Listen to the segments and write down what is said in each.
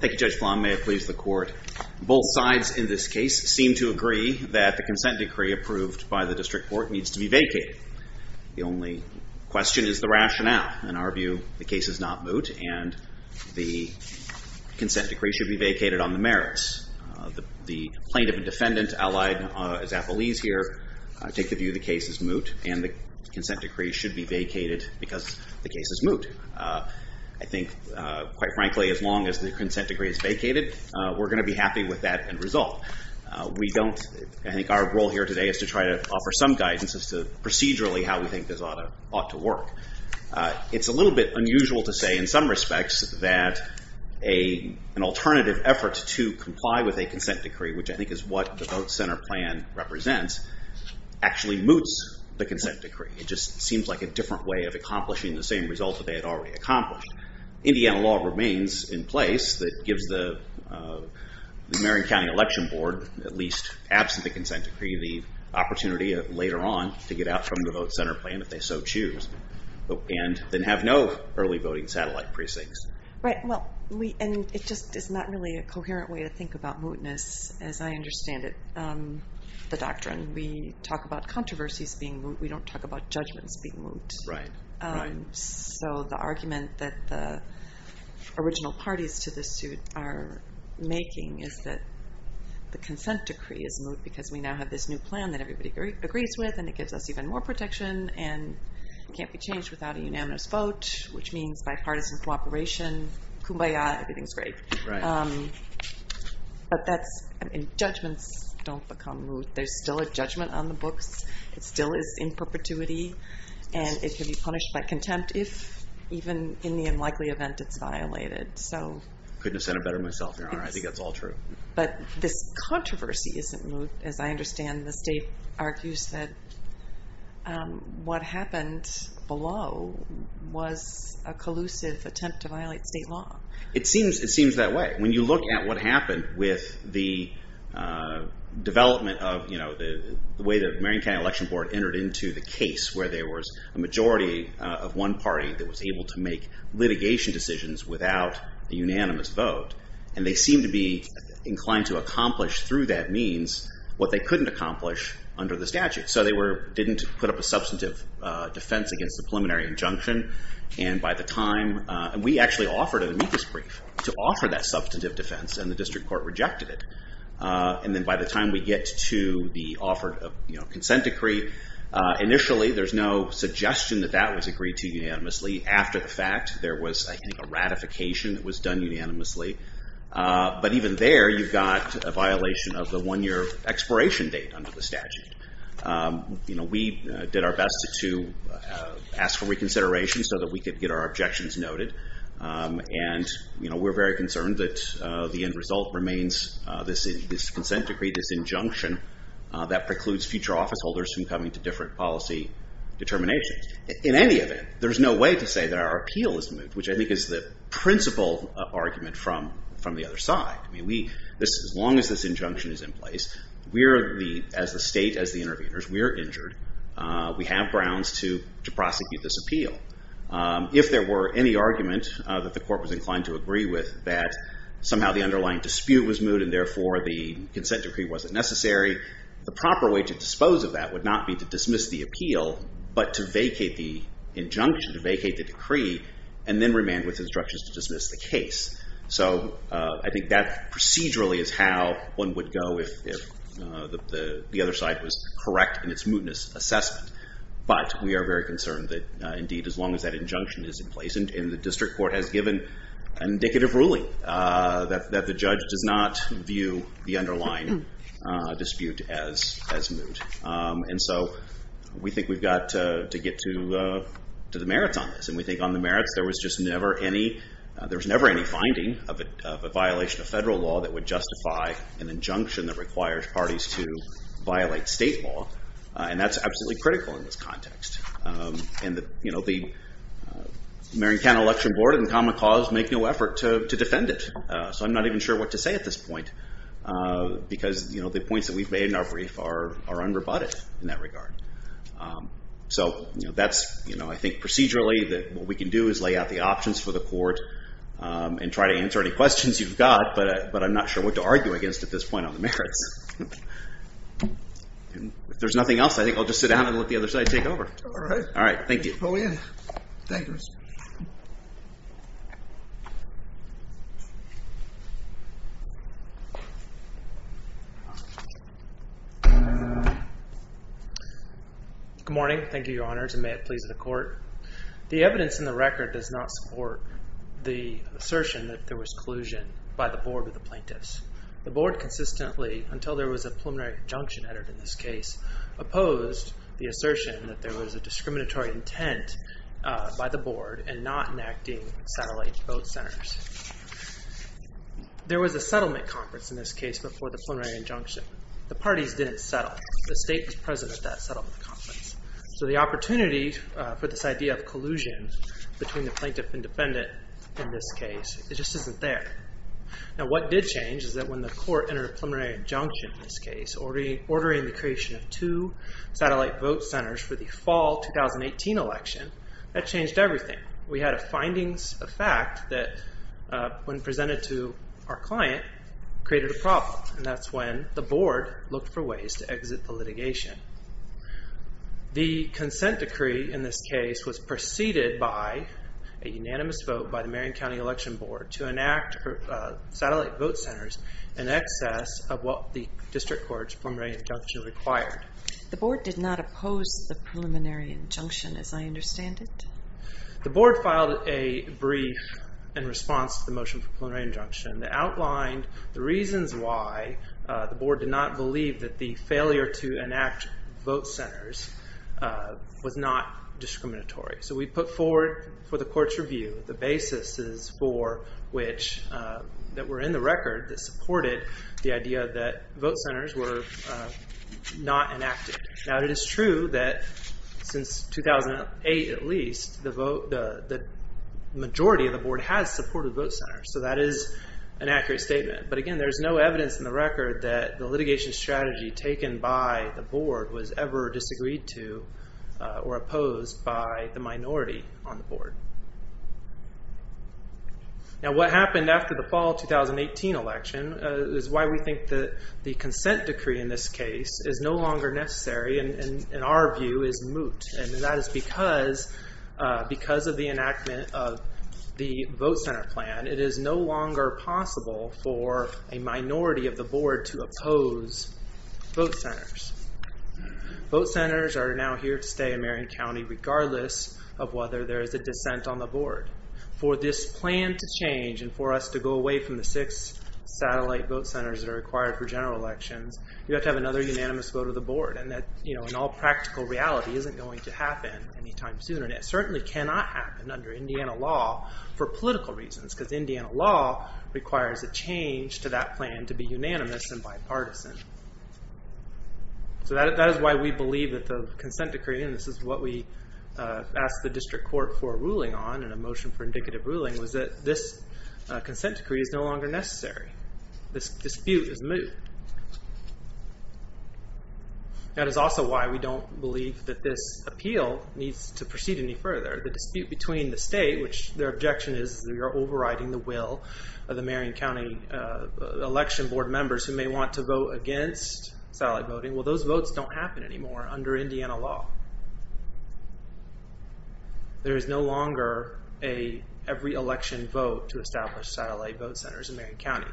Both sides in this case seem to agree that the consent decree approved by the district court needs to be vacated. The only question is the rationale. In our view, the case is not moot, and the consent decree should be vacated on the merits. The plaintiff and defendant, allied as appellees here, take the view the case is moot and the consent decree should be vacated because the case is moot. I think, quite frankly, as long as the consent decree is vacated, we're going to be happy with that end result. I think our role here today is to try to offer some guidance as to procedurally how we think this ought to work. It's a little bit unusual to say, in some respects, that an alternative effort to comply with a consent decree, which I think is what the Vote Center plan represents, actually moots the consent decree. It just seems like a different way of accomplishing the same result that they had already accomplished. Indiana law remains in place that gives the Marion County Election Board, at least absent the consent decree, the opportunity later on to get out from the Vote Center plan, if they so choose, and then have no early voting satellite precincts. It just is not really a coherent way to think about mootness, as I understand it, the doctrine. We talk about controversies being moot. We don't talk about judgments being moot. The argument that the original parties to this suit are making is that the consent decree is moot because we now have this new plan that everybody agrees with, and it gives us even more protection, and it can't be changed without a unanimous vote, which means bipartisan cooperation. Kumbaya, everything's great. But judgments don't become moot. There's still a judgment on the books. It still is in perpetuity. And it can be punished by contempt if, even in the unlikely event, it's violated. Couldn't have said it better myself, Your Honor. I think that's all true. But this controversy isn't moot, as I understand. The state argues that what happened below was a collusive attempt to violate state law. It seems that way. When you look at what happened with the development of the way the Marion County Election Board entered into the case where there was a majority of one party that was able to make litigation decisions without a unanimous vote, and they seemed to be inclined to accomplish through that means what they couldn't accomplish under the statute. So they didn't put up a substantive defense against the preliminary injunction. And we actually offered an amicus brief to offer that substantive defense, and the district court rejected it. And then by the time we get to the offer of consent decree, initially there's no suggestion that that was agreed to unanimously. After the fact, there was a ratification that was done unanimously. But even there, you've got a violation of the one year expiration date under the statute. We did our best to ask for reconsideration so that we could get our objections noted. And we're very concerned that the end result remains this consent decree, this injunction that precludes future office holders from coming to different policy determinations. In any event, there's no way to say that our appeal is moot, which I think is the principal argument from the other side. I mean, as long as this injunction is in place, we as the state, as the interveners, we are injured. We have grounds to prosecute this appeal. If there were any argument that the court was inclined to agree with that somehow the underlying dispute was moot and therefore the consent decree wasn't necessary, the proper way to dispose of that would not be to dismiss the appeal but to vacate the injunction, to vacate the decree, and then remand with instructions to dismiss the case. So I think that procedurally is how one would go if the other side was correct in its mootness assessment. But we are very concerned that indeed as long as that injunction is in place and the district court has given indicative ruling that the judge does not view the underlying dispute as moot. And so we think we've got to get to the merits on this. And we think on the merits there was just never any finding of a violation of federal law that would justify an injunction that requires parties to violate state law. And that's absolutely critical in this context. And the Marin County Election Board and Common Cause make no effort to defend it. So I'm not even sure what to say at this point because the points that we've made in our brief are unrebutted in that regard. So that's I think procedurally that what we can do is lay out the options for the court and try to answer any questions you've got. But I'm not sure what to argue against at this point on the merits. If there's nothing else, I think I'll just sit down and let the other side take over. All right. Thank you. Go ahead. Thank you, Mr. Chairman. Good morning. Thank you, Your Honors, and may it please the court. The evidence in the record does not support the assertion that there was collusion by the board of the plaintiffs. The board consistently, until there was a preliminary injunction entered in this case, opposed the assertion that there was a discriminatory intent by the board in not enacting satellite vote centers. There was a settlement conference in this case before the preliminary injunction. The parties didn't settle. The state was present at that settlement conference. So the opportunity for this idea of collusion between the plaintiff and defendant in this case, it just isn't there. Now what did change is that when the court entered a preliminary injunction in this case, ordering the creation of two satellite vote centers for the fall 2018 election, that changed everything. We had findings of fact that, when presented to our client, created a problem. And that's when the board looked for ways to exit the litigation. The consent decree in this case was preceded by a unanimous vote by the Marion County Election Board to enact satellite vote centers in excess of what the district court's preliminary injunction required. The board did not oppose the preliminary injunction, as I understand it. The board filed a brief in response to the motion for preliminary injunction that outlined the reasons why the board did not believe that the failure to enact vote centers was not discriminatory. So we put forward for the court's review the basis for which, that were in the record, that supported the idea that vote centers were not enacted. Now it is true that, since 2008 at least, the majority of the board has supported vote centers. So that is an accurate statement. But again, there is no evidence in the record that the litigation strategy taken by the board was ever disagreed to or opposed by the minority on the board. Now what happened after the fall 2018 election is why we think that the consent decree in this case is no longer necessary and, in our view, is moot. And that is because of the enactment of the vote center plan. It is no longer possible for a minority of the board to oppose vote centers. Vote centers are now here to stay in Marion County, regardless of whether there is a dissent on the board. For this plan to change and for us to go away from the six satellite vote centers that are required for general elections, you have to have another unanimous vote of the board. And that, in all practical reality, isn't going to happen anytime soon. And it certainly cannot happen under Indiana law for political reasons. Because Indiana law requires a change to that plan to be unanimous and bipartisan. So that is why we believe that the consent decree, and this is what we asked the district court for a ruling on and a motion for indicative ruling, was that this consent decree is no longer necessary. This dispute is moot. That is also why we don't believe that this appeal needs to proceed any further. The dispute between the state, which their objection is we are overriding the will of the Marion County Election Board members who may want to vote against satellite voting. Well, those votes don't happen anymore under Indiana law. There is no longer an every-election vote to establish satellite vote centers in Marion County.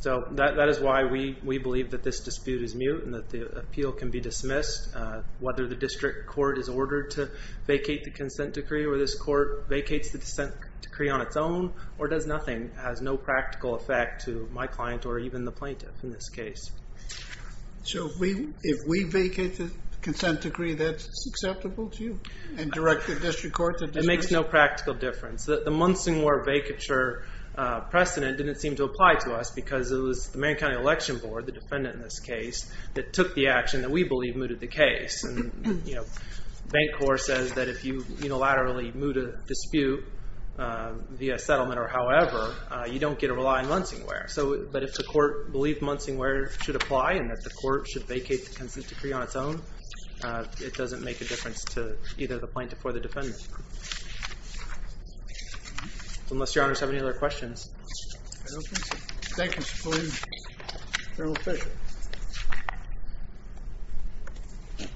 So that is why we believe that this dispute is moot and that the appeal can be dismissed. Whether the district court is ordered to vacate the consent decree or this court vacates the consent decree on its own or does nothing has no practical effect to my client or even the plaintiff in this case. So if we vacate the consent decree, that's acceptable to you? And direct the district court to dispute? It makes no practical difference. The Munsingware vacature precedent didn't seem to apply to us because it was the Marion County Election Board, the defendant in this case, that took the action that we believe mooted the case. Bank Corps says that if you unilaterally moot a dispute via settlement or however, you don't get to rely on Munsingware. But if the court believed Munsingware should apply and that the court should vacate the consent decree on its own, it doesn't make a difference to either the plaintiff or the defendant. Unless your honors have any other questions. Thank you, Mr. Polin. General Fisher.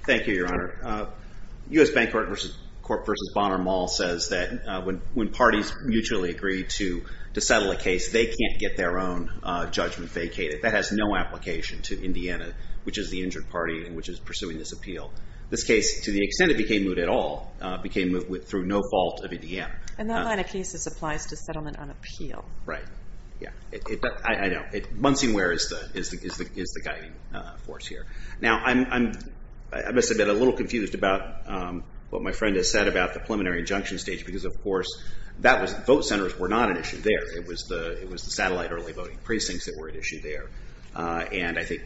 Thank you, your honor. U.S. Bank Corp. v. Bonner Mall says that when parties mutually agree to settle a case, they can't get their own judgment vacated. That has no application to Indiana, which is the injured party and which is pursuing this appeal. This case, to the extent it became moot at all, became moot through no fault of Indiana. And that line of cases applies to settlement on appeal. Right. I know. Munsingware is the guiding force here. Now, I must have been a little confused about what my friend has said about the preliminary injunction stage because, of course, vote centers were not an issue there. It was the satellite early voting precincts that were an issue there. And I think,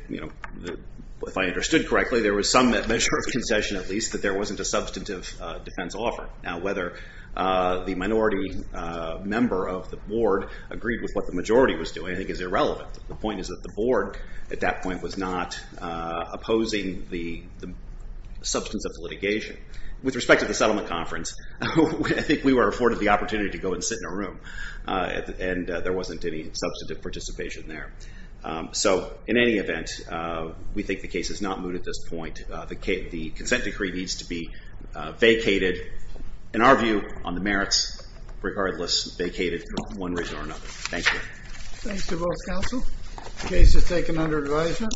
if I understood correctly, there was some measure of concession, at least, that there wasn't a substantive defense offer. Now, whether the minority member of the board agreed with what the majority was doing, I think, is irrelevant. The point is that the board, at that point, was not opposing the substance of litigation. With respect to the settlement conference, I think we were afforded the opportunity to go and sit in a room and there wasn't any substantive participation there. So, in any event, we think the case is not moot at this point. The consent decree needs to be vacated. In our view, on the merits, regardless, vacated for one reason or another. Thank you. Thanks to both counsel. The case is taken under advisement.